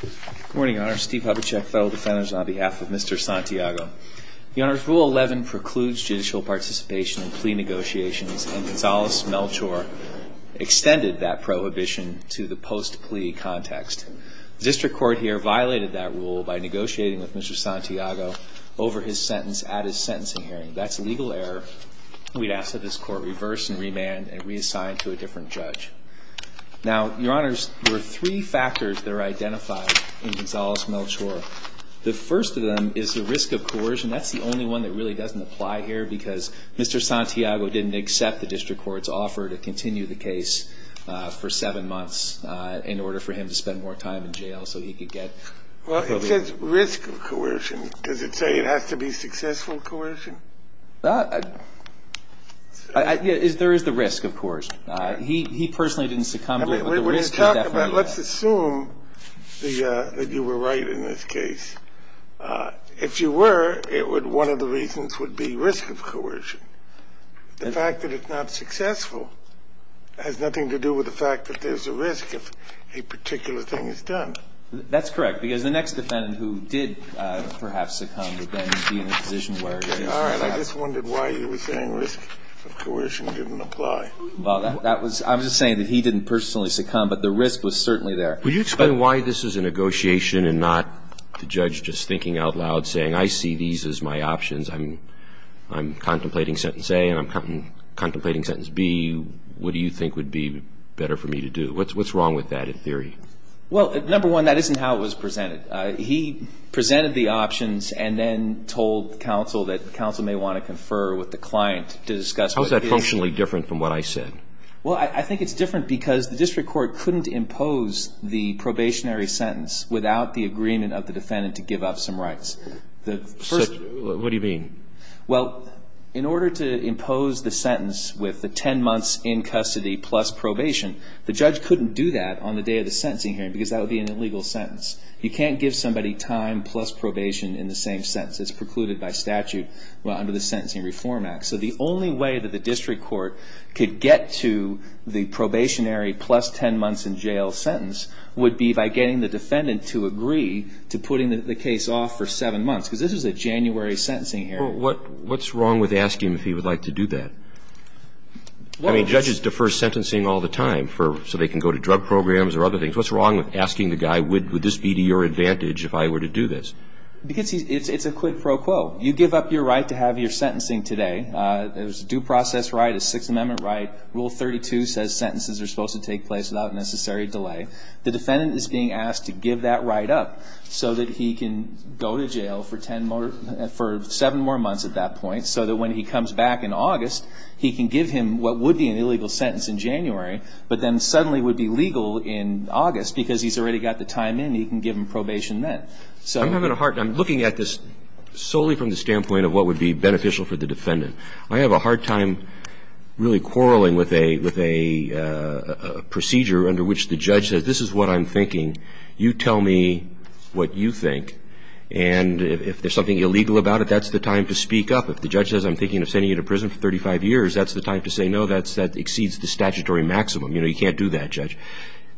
Good morning, Your Honor. Steve Hubachek, Federal Defenders, on behalf of Mr. Santiago. Your Honor, Rule 11 precludes judicial participation in plea negotiations, and Gonzales Melchor extended that prohibition to the post-plea context. The district court here violated that rule by negotiating with Mr. Santiago over his sentence at his sentencing hearing. That's a legal error. We'd ask that this court reverse and remand and reassign to a different judge. Now, Your Honors, there are three factors that are identified in Gonzales Melchor. The first of them is the risk of coercion. That's the only one that really doesn't apply here because Mr. Santiago didn't accept the district court's offer to continue the case for seven months in order for him to spend more time in jail so he could get... Well, it says risk of coercion. Does it say it has to be successful coercion? There is the risk, of course. He personally didn't succumb to it, but the risk is definitely there. Let's assume that you were right in this case. If you were, one of the reasons would be risk of coercion. The fact that it's not successful has nothing to do with the fact that there's a risk if a particular thing is done. That's correct, because the next defendant who did perhaps succumb would then be in a position where it is. All right, I just wondered why you were saying risk of coercion didn't apply. Well, I was just saying that he didn't personally succumb, but the risk was certainly there. Will you explain why this is a negotiation and not the judge just thinking out loud saying, I see these as my options, I'm contemplating Sentence A and I'm contemplating Sentence B. What do you think would be better for me to do? What's wrong with that in theory? Well, number one, that isn't how it was presented. He presented the options and then told counsel that counsel may want to confer with the client to discuss. How is that functionally different from what I said? Well, I think it's different because the district court couldn't impose the probationary sentence without the agreement of the defendant to give up some rights. What do you mean? Well, in order to impose the sentence with the 10 months in custody plus probation, the judge couldn't do that on the day of the sentencing hearing because that would be an illegal sentence. You can't give somebody time plus probation in the same sentence. It's precluded by statute under the Sentencing Reform Act. So the only way that the district court could get to the probationary plus 10 months in jail sentence would be by getting the defendant to agree to putting the case off for 7 months because this is a January sentencing hearing. What's wrong with asking if he would like to do that? I mean, judges defer sentencing all the time so they can go to drug programs or other things. What's wrong with asking the guy, would this be to your advantage if I were to do this? Because it's a quid pro quo. You give up your right to have your sentencing today. There's a due process right, a Sixth Amendment right. Rule 32 says sentences are supposed to take place without necessary delay. The defendant is being asked to give that right up so that he can go to jail for 7 more months at that point so that when he comes back in August, he can give him what would be an illegal sentence in January but then suddenly would be legal in August because he's already got the time in. He can give him probation then. So I'm having a hard time looking at this solely from the standpoint of what would be beneficial for the defendant. I have a hard time really quarreling with a procedure under which the judge says this is what I'm thinking. You tell me what you think. And if there's something illegal about it, that's the time to speak up. If the judge says I'm thinking of sending you to prison for 35 years, that's the time to say no. That exceeds the statutory maximum. You know, you can't do that, Judge.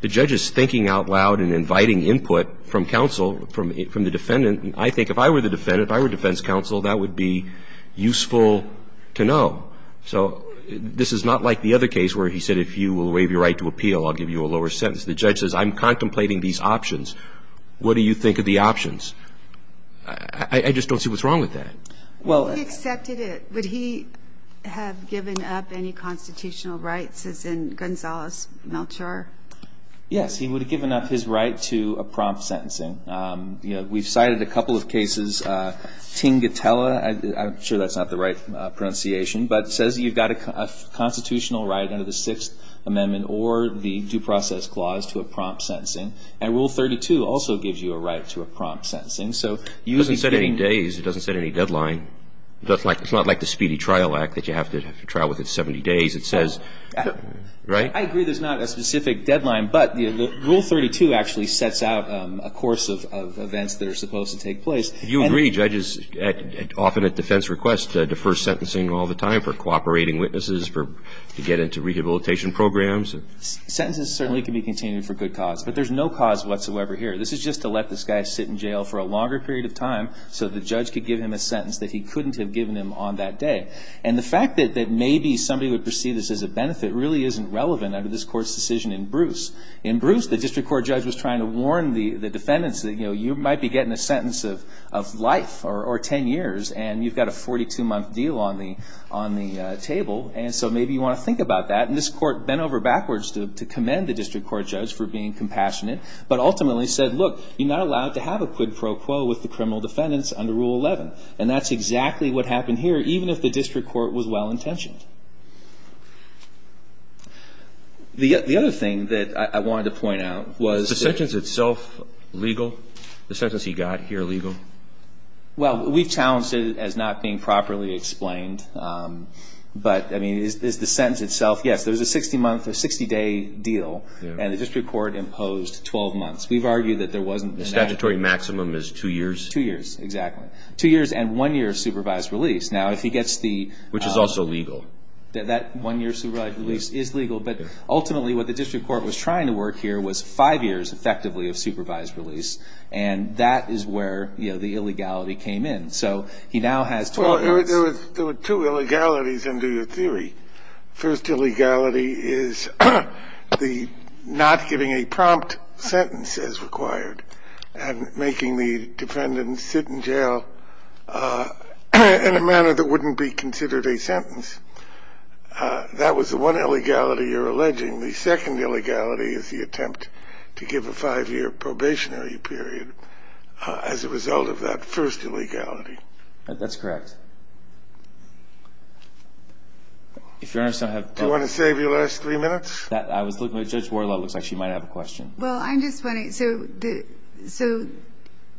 The judge is thinking out loud and inviting input from counsel, from the defendant. I think if I were the defendant, if I were defense counsel, that would be useful to know. So this is not like the other case where he said if you will waive your right to appeal, I'll give you a lower sentence. The judge says I'm contemplating these options. What do you think of the options? I just don't see what's wrong with that. If he accepted it, would he have given up any constitutional rights, as in Gonzalez-Melchor? Yes, he would have given up his right to a prompt sentencing. We've cited a couple of cases. Tingitella, I'm sure that's not the right pronunciation, but it says you've got a constitutional right under the Sixth Amendment or the Due Process Clause to a prompt sentencing. And Rule 32 also gives you a right to a prompt sentencing. It doesn't say any days. It doesn't say any deadline. It's not like the Speedy Trial Act that you have to trial with 70 days. It says, right? I agree there's not a specific deadline, but Rule 32 actually sets out a course of events that are supposed to take place. You agree judges often at defense request defer sentencing all the time for cooperating witnesses, to get into rehabilitation programs. Sentences certainly can be continued for good cause, but there's no cause whatsoever here. This is just to let this guy sit in jail for a longer period of time so the judge could give him a sentence that he couldn't have given him on that day. And the fact that maybe somebody would perceive this as a benefit really isn't relevant under this court's decision in Bruce. In Bruce, the district court judge was trying to warn the defendants that you might be getting a sentence of life or 10 years, and you've got a 42-month deal on the table, and so maybe you want to think about that. And this court bent over backwards to commend the district court judge for being compassionate, but ultimately said, look, you're not allowed to have a quid pro quo with the criminal defendants under Rule 11. And that's exactly what happened here, even if the district court was well-intentioned. The other thing that I wanted to point out was... Was the sentence itself legal? The sentence he got here legal? Well, we've challenged it as not being properly explained, but, I mean, is the sentence itself... Yes, there's a 60-day deal, and the district court imposed 12 months. We've argued that there wasn't... The statutory maximum is two years? Two years, exactly. Two years and one year of supervised release. Which is also legal. That one year of supervised release is legal, but ultimately what the district court was trying to work here was five years, effectively, of supervised release, and that is where the illegality came in. So he now has 12 months... There were two illegalities under your theory. First illegality is the not giving a prompt sentence as required, and making the defendant sit in jail in a manner that wouldn't be considered a sentence. That was the one illegality you're alleging. The second illegality is the attempt to give a five-year probationary period as a result of that first illegality. That's correct. Do you want to save your last three minutes? I was looking at Judge Warlow. It looks like she might have a question. Well, I'm just wondering, so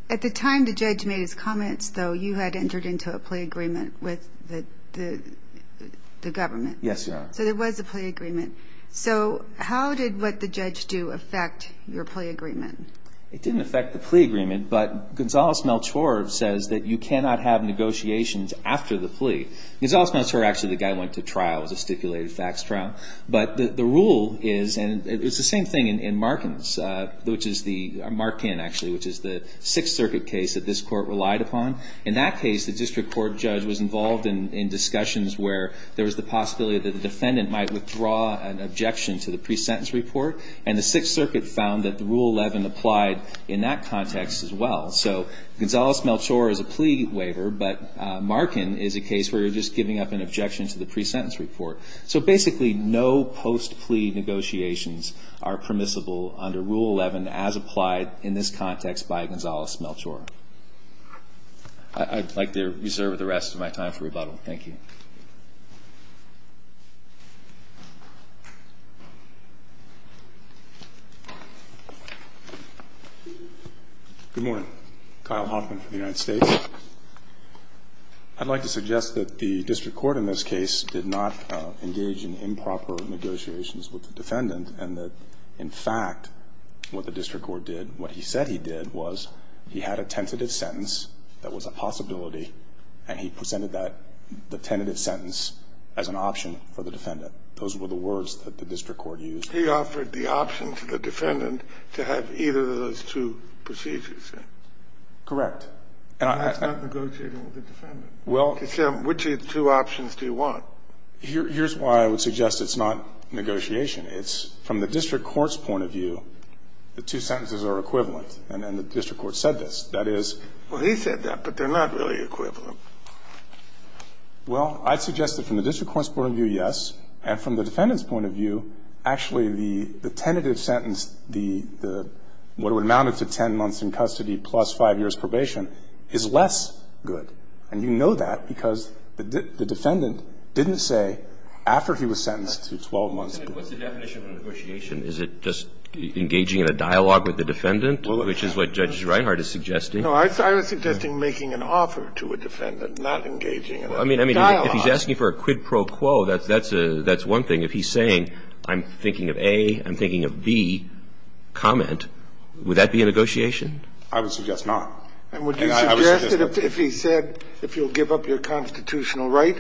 at the time the judge made his comments, though, you had entered into a plea agreement with the government. Yes, Your Honor. So there was a plea agreement. So how did what the judge do affect your plea agreement? It didn't affect the plea agreement, but Gonzales-Melchor says that you cannot have negotiations after the plea. Gonzales-Melchor, actually, the guy went to trial. It was a stipulated facts trial. But the rule is, and it's the same thing in Markin's, which is the... Markin, actually, which is the Sixth Circuit case that this Court relied upon. In that case, the district court judge was involved in discussions where there was the possibility that the defendant might withdraw an objection to the pre-sentence report, and the Sixth Circuit found that the Rule 11 applied in that context as well. So Gonzales-Melchor is a plea waiver, but Markin is a case where you're just giving up an objection to the pre-sentence report. So basically, no post-plea negotiations are permissible under Rule 11 as applied in this context by Gonzales-Melchor. I'd like to reserve the rest of my time for rebuttal. Thank you. Good morning. Kyle Hoffman for the United States. I'd like to suggest that the district court in this case did not engage in improper negotiations with the defendant, and that, in fact, what the district court did, what he said he did, was he had a tentative sentence that was a possibility, and he presented that, the tentative sentence, as an option for the defendant. Those were the words that the district court used. He offered the option to the defendant to have either of those two procedures, correct? Correct. And that's not negotiating with the defendant. Well. Which of the two options do you want? Here's why I would suggest it's not negotiation. It's from the district court's point of view, the two sentences are equivalent, and the district court said this. That is... Well, he said that, but they're not really equivalent. Well, I'd suggest that from the district court's point of view, yes, and from the defendant's point of view, actually, the tentative sentence, the one that amounted to 10 months in custody plus 5 years' probation, is less good. And you know that because the defendant didn't say after he was sentenced to 12 months. What's the definition of negotiation? Is it just engaging in a dialogue with the defendant, which is what Judge Reinhart is suggesting? No, I was suggesting making an offer to a defendant, not engaging in a dialogue. Well, I mean, if he's asking for a quid pro quo, that's one thing. If he's saying, I'm thinking of A, I'm thinking of B comment, would that be a negotiation? I would suggest not. And would you suggest that if he said, if you'll give up your constitutional right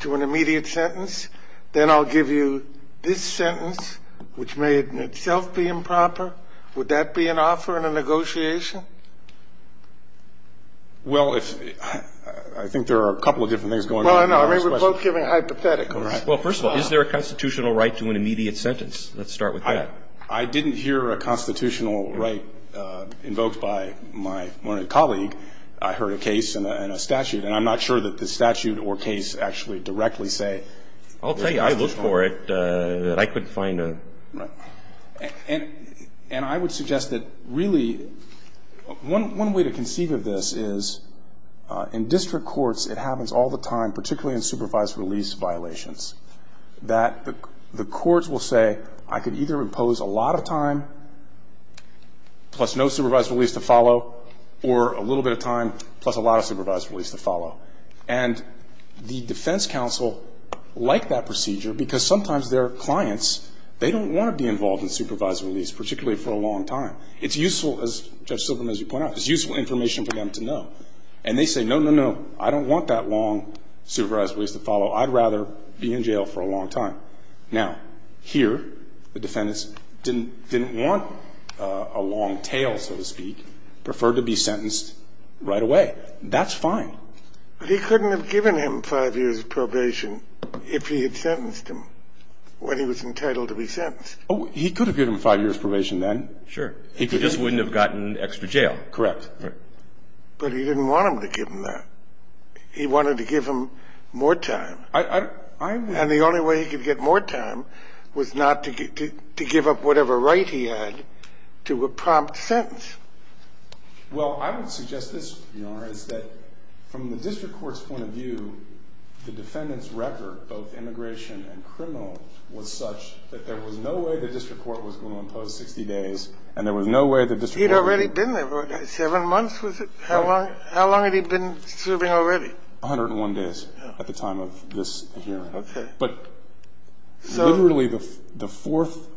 to an immediate sentence, then I'll give you this sentence, which may in itself be improper, would that be an offer in a negotiation? Well, I think there are a couple of different things going on. Well, no. I mean, we're both giving hypotheticals. Well, first of all, is there a constitutional right to an immediate sentence? Let's start with that. I didn't hear a constitutional right invoked by my colleague. I heard a case and a statute. And I'm not sure that the statute or case actually directly say that there's a constitutional right. I'll tell you, I looked for it. I couldn't find a. Right. And I would suggest that, really, one way to conceive of this is, in district courts, it happens all the time, particularly in supervised release violations, that the courts will say, I could either impose a lot of time, plus no supervised release to follow, or a little bit of time, plus a lot of supervised release to follow. And the defense counsel like that procedure, because sometimes their clients, they don't want to be involved in supervised release, particularly for a long time. It's useful, as Judge Silverman, as you point out, it's useful information for them to know. And they say, no, no, no, I don't want that long supervised release to follow. I'd rather be in jail for a long time. Now, here, the defendants didn't want a long tail, so to speak, preferred to be sentenced right away. That's fine. But he couldn't have given him five years of probation if he had sentenced him when he was entitled to be sentenced. Oh, he could have given him five years probation then. Sure. He just wouldn't have gotten extra jail. Correct. But he didn't want them to give him that. He wanted to give him more time. And the only way he could get more time was not to give up whatever right he had to a prompt sentence. Well, I would suggest this, Your Honor, is that from the district court's point of view, the defendant's record, both immigration and criminal, was such that there was no way the district court was going to impose 60 days, and there was no way the district court would be- He'd already been there. Seven months, was it? How long had he been serving already? 101 days at the time of this hearing. But literally the fourth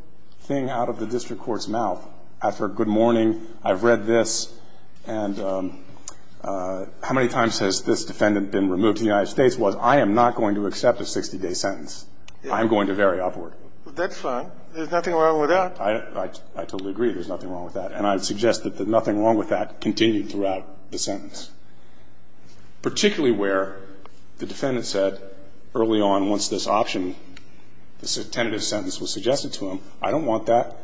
thing out of the district court's mouth after a good morning, I've read this, and how many times has this defendant been removed to the United States, was I am not going to accept a 60-day sentence. I am going to vary upward. Well, that's fine. There's nothing wrong with that. I totally agree there's nothing wrong with that. And I would suggest that the nothing wrong with that continued throughout the sentence, particularly where the defendant said early on once this option, this tentative sentence was suggested to him, I don't want that.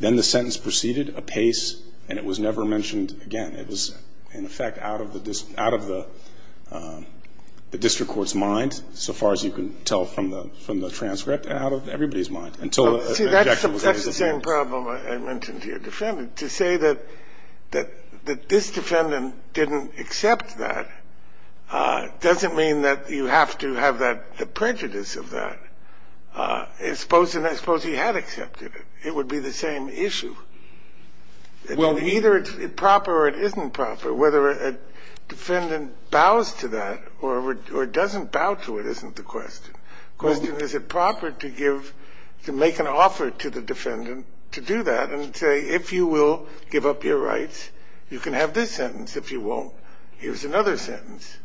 Then the sentence proceeded apace, and it was never mentioned again. It was, in effect, out of the district court's mind, so far as you can tell from the transcript, out of everybody's mind until the objection was made. See, that's the same problem I mentioned to your defendant. To say that this defendant didn't accept that doesn't mean that you have to have the prejudice of that. Suppose he had accepted it. It would be the same issue. Either it's proper or it isn't proper. Whether a defendant bows to that or doesn't bow to it isn't the question. The question is, is it proper to give, to make an offer to the defendant to do that and say, if you will give up your rights, you can have this sentence. If you won't, here's another sentence.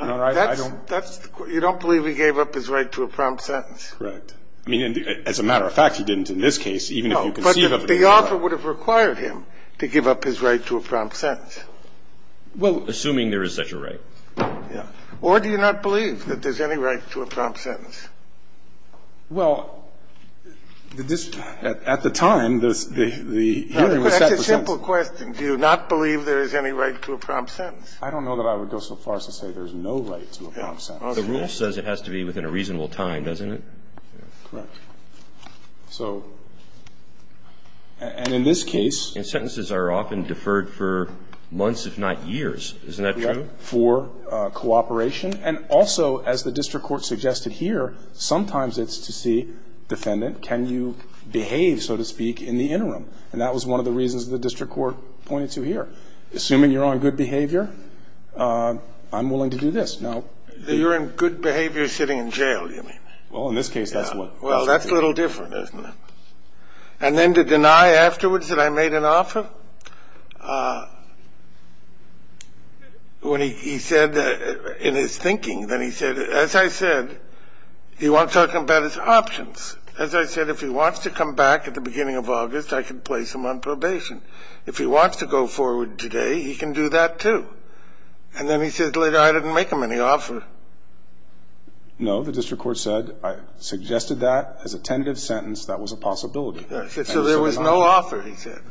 You don't believe he gave up his right to a prompt sentence. Correct. I mean, as a matter of fact, he didn't in this case, even if you conceive of it. No, but the offer would have required him to give up his right to a prompt sentence. Well, assuming there is such a right. Yeah. Or do you not believe that there's any right to a prompt sentence? Well, the district court. At the time, the hearing was set for sentence. That's a simple question. Do you not believe there is any right to a prompt sentence? I don't know that I would go so far as to say there's no right to a prompt sentence. The rule says it has to be within a reasonable time, doesn't it? Correct. So, and in this case. And sentences are often deferred for months, if not years. Isn't that true? For cooperation. And also, as the district court suggested here, sometimes it's to see, defendant, can you behave, so to speak, in the interim? And that was one of the reasons the district court pointed to here. Assuming you're on good behavior, I'm willing to do this. You're in good behavior sitting in jail, you mean? Well, in this case, that's what. Well, that's a little different, isn't it? And then to deny afterwards that I made an offer? When he said, in his thinking, then he said, as I said, he wants to talk about his options. As I said, if he wants to come back at the beginning of August, I can place him on probation. If he wants to go forward today, he can do that, too. And then he said later I didn't make him any offer. No. The district court said, I suggested that as a tentative sentence. That was a possibility. So there was no offer, he said.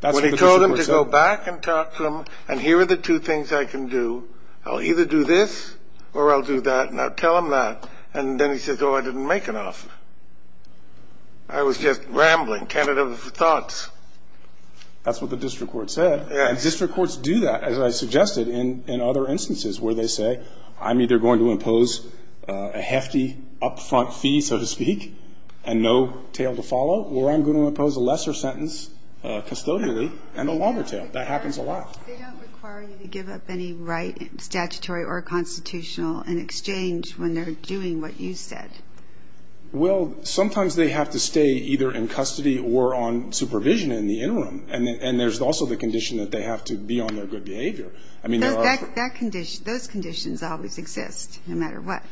That's what the district court said. When he told him to go back and talk to him, and here are the two things I can do, I'll either do this or I'll do that, and I'll tell him that. And then he says, oh, I didn't make an offer. I was just rambling, tentative of the thoughts. That's what the district court said. Yes. And district courts do that, as I suggested, in other instances where they say, I'm either going to impose a hefty upfront fee, so to speak, and no tail to follow, or I'm going to impose a lesser sentence custodially and a longer tail. That happens a lot. They don't require you to give up any right, statutory or constitutional, in exchange when they're doing what you said. Well, sometimes they have to stay either in custody or on supervision in the interim. And there's also the condition that they have to be on their good behavior. Those conditions always exist, no matter what.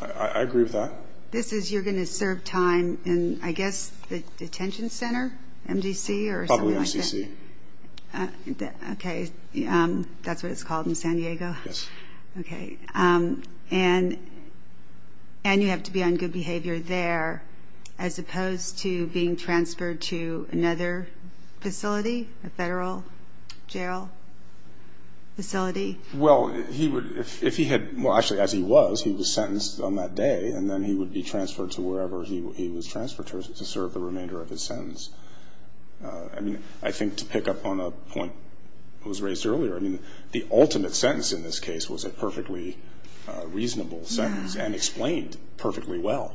I agree with that. This is you're going to serve time in, I guess, the detention center, MDC, or something like that? Probably MCC. Okay. That's what it's called in San Diego? Yes. Okay. And you have to be on good behavior there, as opposed to being transferred to another facility, a federal jail facility? Well, he would, if he had, well, actually, as he was, he was sentenced on that day, and then he would be transferred to wherever he was transferred to serve the remainder of his sentence. I mean, I think to pick up on a point that was raised earlier, I mean, the ultimate sentence in this case was a perfectly reasonable sentence and explained perfectly well,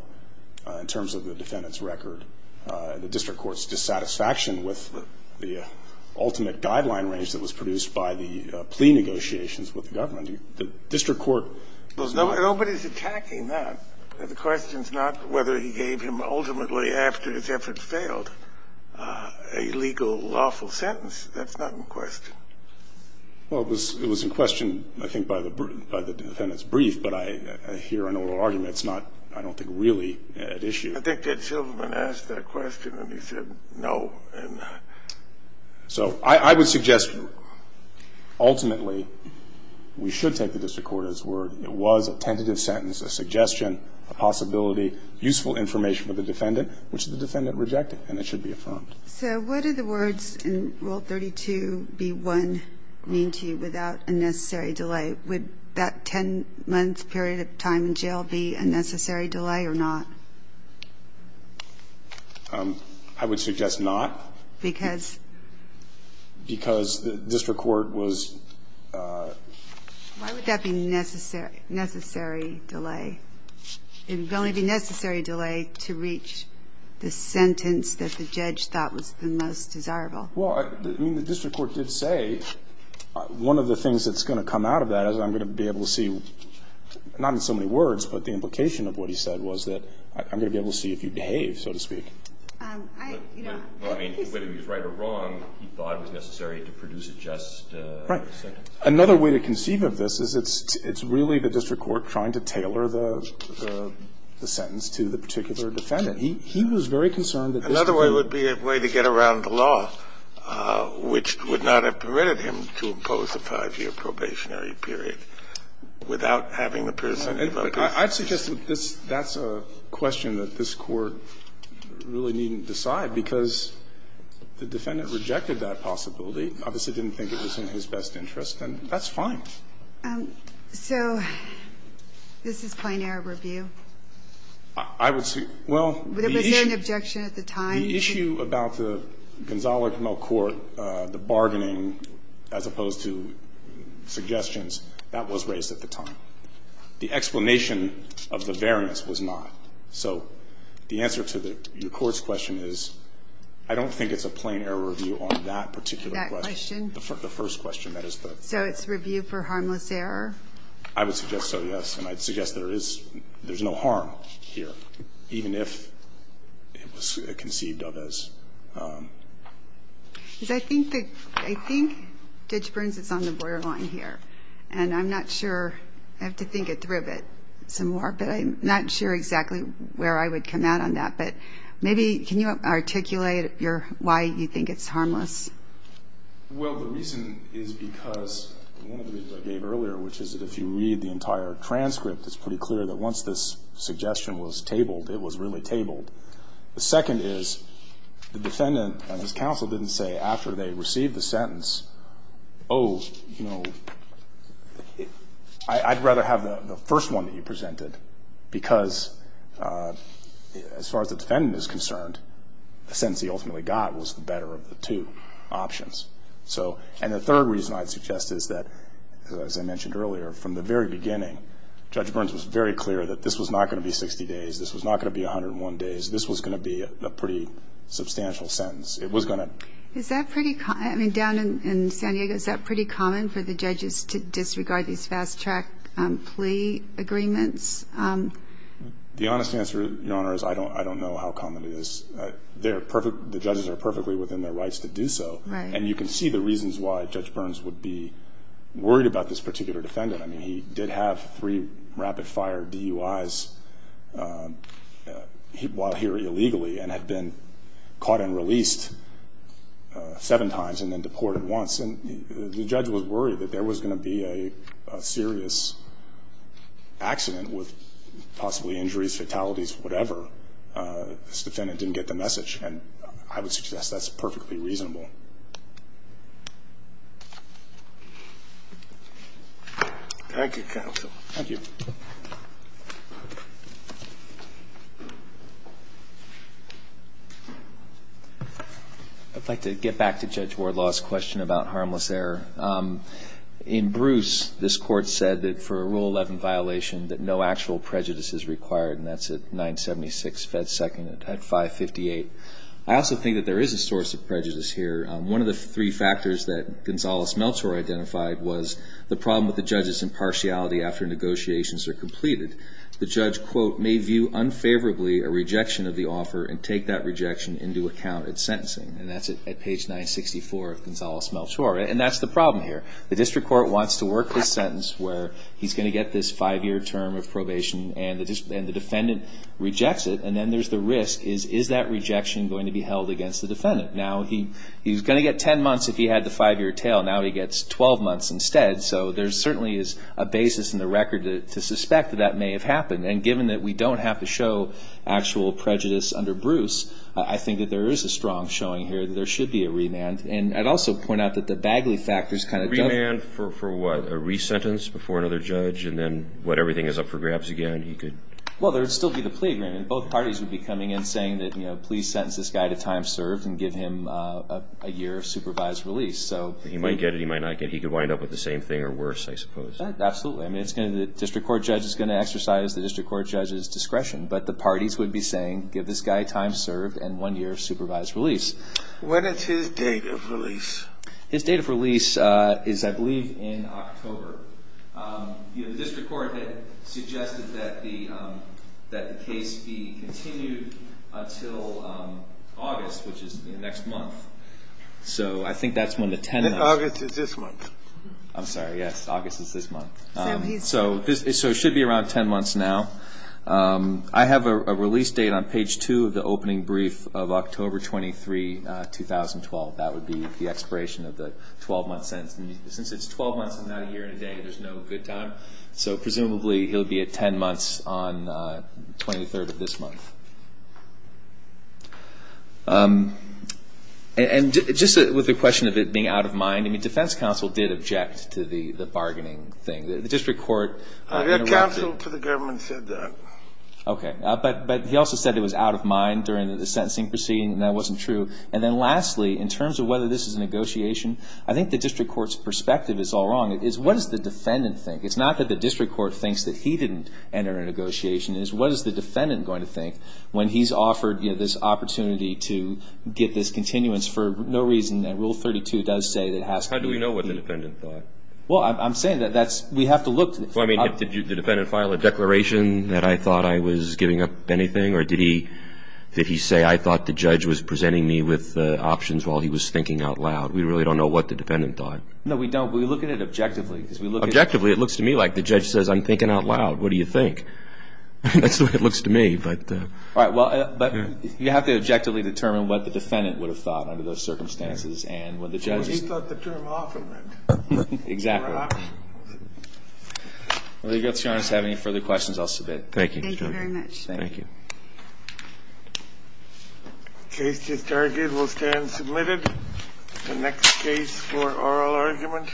in terms of the defendant's record, the district court's dissatisfaction with the ultimate guideline range that was produced by the plea negotiations with the government. The district court was not. Nobody's attacking that. The question's not whether he gave him, ultimately, after his efforts failed, a legal, lawful sentence. That's not in question. Well, it was in question, I think, by the defendant's brief, but I hear an oral argument. It's not, I don't think, really at issue. I think Ed Silverman asked that question, and he said no. So I would suggest, ultimately, we should take the district court at its word. It was a tentative sentence, a suggestion, a possibility, useful information for the defendant, which the defendant rejected, and it should be affirmed. So what do the words in Rule 32b-1 mean to you, without a necessary delay? Would that 10-month period of time in jail be a necessary delay or not? I would suggest not. Because? Because the district court was. Why would that be a necessary delay? It would only be a necessary delay to reach the sentence that the judge thought was the most desirable. Well, I mean, the district court did say one of the things that's going to come out of that is I'm going to be able to see, not in so many words, but the implication of what he said was that I'm going to be able to see if you behave, so to speak. I, you know. Well, I mean, whether he's right or wrong, he thought it was necessary to produce a just sentence. Right. Another way to conceive of this is it's really the district court trying to tailor the sentence to the particular defendant. He was very concerned that this would be. Another way would be a way to get around the law, which would not have permitted him to impose a 5-year probationary period without having the person give up his. I'd suggest that that's a question that this Court really needn't decide, because the defendant rejected that possibility, obviously didn't think it was in his best interest, and that's fine. So this is plain error review? I would say, well, the issue. Was there an objection at the time? The issue about the Gonzalez-Camel court, the bargaining, as opposed to suggestions, that was raised at the time. The explanation of the variance was not. So the answer to the Court's question is I don't think it's a plain error review on that particular question. That question. The first question. So it's review for harmless error? I would suggest so, yes. And I'd suggest there is no harm here, even if it was conceived of as. Because I think Judge Burns is on the borderline here. And I'm not sure. I have to think it through a bit some more. But I'm not sure exactly where I would come out on that. But maybe can you articulate why you think it's harmless? Well, the reason is because one of the reasons I gave earlier, which is that if you read the entire transcript, it's pretty clear that once this suggestion was tabled, it was really tabled. The second is the defendant and his counsel didn't say after they received the sentence, oh, you know, I'd rather have the first one that you presented, because as far as the defendant is concerned, the sentence he ultimately got was the better of the two options. And the third reason I'd suggest is that, as I mentioned earlier, from the very beginning Judge Burns was very clear that this was not going to be 60 days. This was not going to be 101 days. This was going to be a pretty substantial sentence. It was going to. Is that pretty common? I mean, down in San Diego, is that pretty common for the judges to disregard these fast-track plea agreements? The honest answer, Your Honor, is I don't know how common it is. The judges are perfectly within their rights to do so. Right. And you can see the reasons why Judge Burns would be worried about this particular defendant. I mean, he did have three rapid-fire DUIs while here illegally and had been caught and released seven times and then deported once. And the judge was worried that there was going to be a serious accident with possibly injuries, fatalities, whatever. This defendant didn't get the message. And I would suggest that's perfectly reasonable. Thank you, counsel. Thank you. I'd like to get back to Judge Wardlaw's question about harmless error. In Bruce, this Court said that for a Rule 11 violation that no actual prejudice is required, and that's at 976 fed. 2nd at 558. I also think that there is a source of prejudice here. One of the three factors that Gonzales-Meltzer identified was the problem with the judge's impartiality after negotiations are completed. The judge, quote, may view unfavorably a rejection of the offer and take that rejection into account at sentencing. And that's at page 964 of Gonzales-Meltzer. And that's the problem here. The district court wants to work this sentence where he's going to get this five-year term of probation and the defendant rejects it. And then there's the risk. Is that rejection going to be held against the defendant? Now he's going to get 10 months if he had the five-year tail. Now he gets 12 months instead. So there certainly is a basis in the record to suspect that that may have happened. And given that we don't have to show actual prejudice under Bruce, I think that there is a strong showing here that there should be a remand. And I'd also point out that the Bagley factors kind of don't. Remand for what? A re-sentence before another judge? And then what, everything is up for grabs again? Well, there would still be the plea agreement. Both parties would be coming in saying that, you know, please sentence this guy to time served and give him a year of supervised release. He might get it, he might not get it. He could wind up with the same thing or worse, I suppose. Absolutely. I mean, the district court judge is going to exercise the district court judge's discretion. But the parties would be saying, give this guy time served and one year of supervised release. When is his date of release? His date of release is, I believe, in October. You know, the district court had suggested that the case be continued until August, which is next month. So I think that's when the 10 months. August is this month. I'm sorry, yes, August is this month. So it should be around 10 months now. I have a release date on page 2 of the opening brief of October 23, 2012. That would be the expiration of the 12-month sentence. Since it's 12 months and not a year and a day, there's no good time. So presumably he'll be at 10 months on the 23rd of this month. And just with the question of it being out of mind, I mean, defense counsel did object to the bargaining thing. The district court interrupted. Their counsel to the government said that. Okay. But he also said it was out of mind during the sentencing proceeding and that wasn't true. And then lastly, in terms of whether this is a negotiation, I think the district court's perspective is all wrong. It's what does the defendant think? It's not that the district court thinks that he didn't enter a negotiation. It's what is the defendant going to think when he's offered, you know, this opportunity to get this continuance for no reason that Rule 32 does say it has to be. How do we know what the defendant thought? Well, I'm saying that we have to look. Well, I mean, did the defendant file a declaration that I thought I was giving up anything? Or did he say I thought the judge was presenting me with options while he was thinking out loud? We really don't know what the defendant thought. No, we don't. We look at it objectively. Objectively, it looks to me like the judge says I'm thinking out loud. What do you think? That's the way it looks to me, but. All right, well, but you have to objectively determine what the defendant would have thought under those circumstances and what the judge is. Well, he thought the term off of it. Exactly. Or off. Whether you have any further questions, I'll submit. Thank you, Judge. Thank you very much. Thank you. The case is targeted. We'll stand submitted. The next case for oral argument.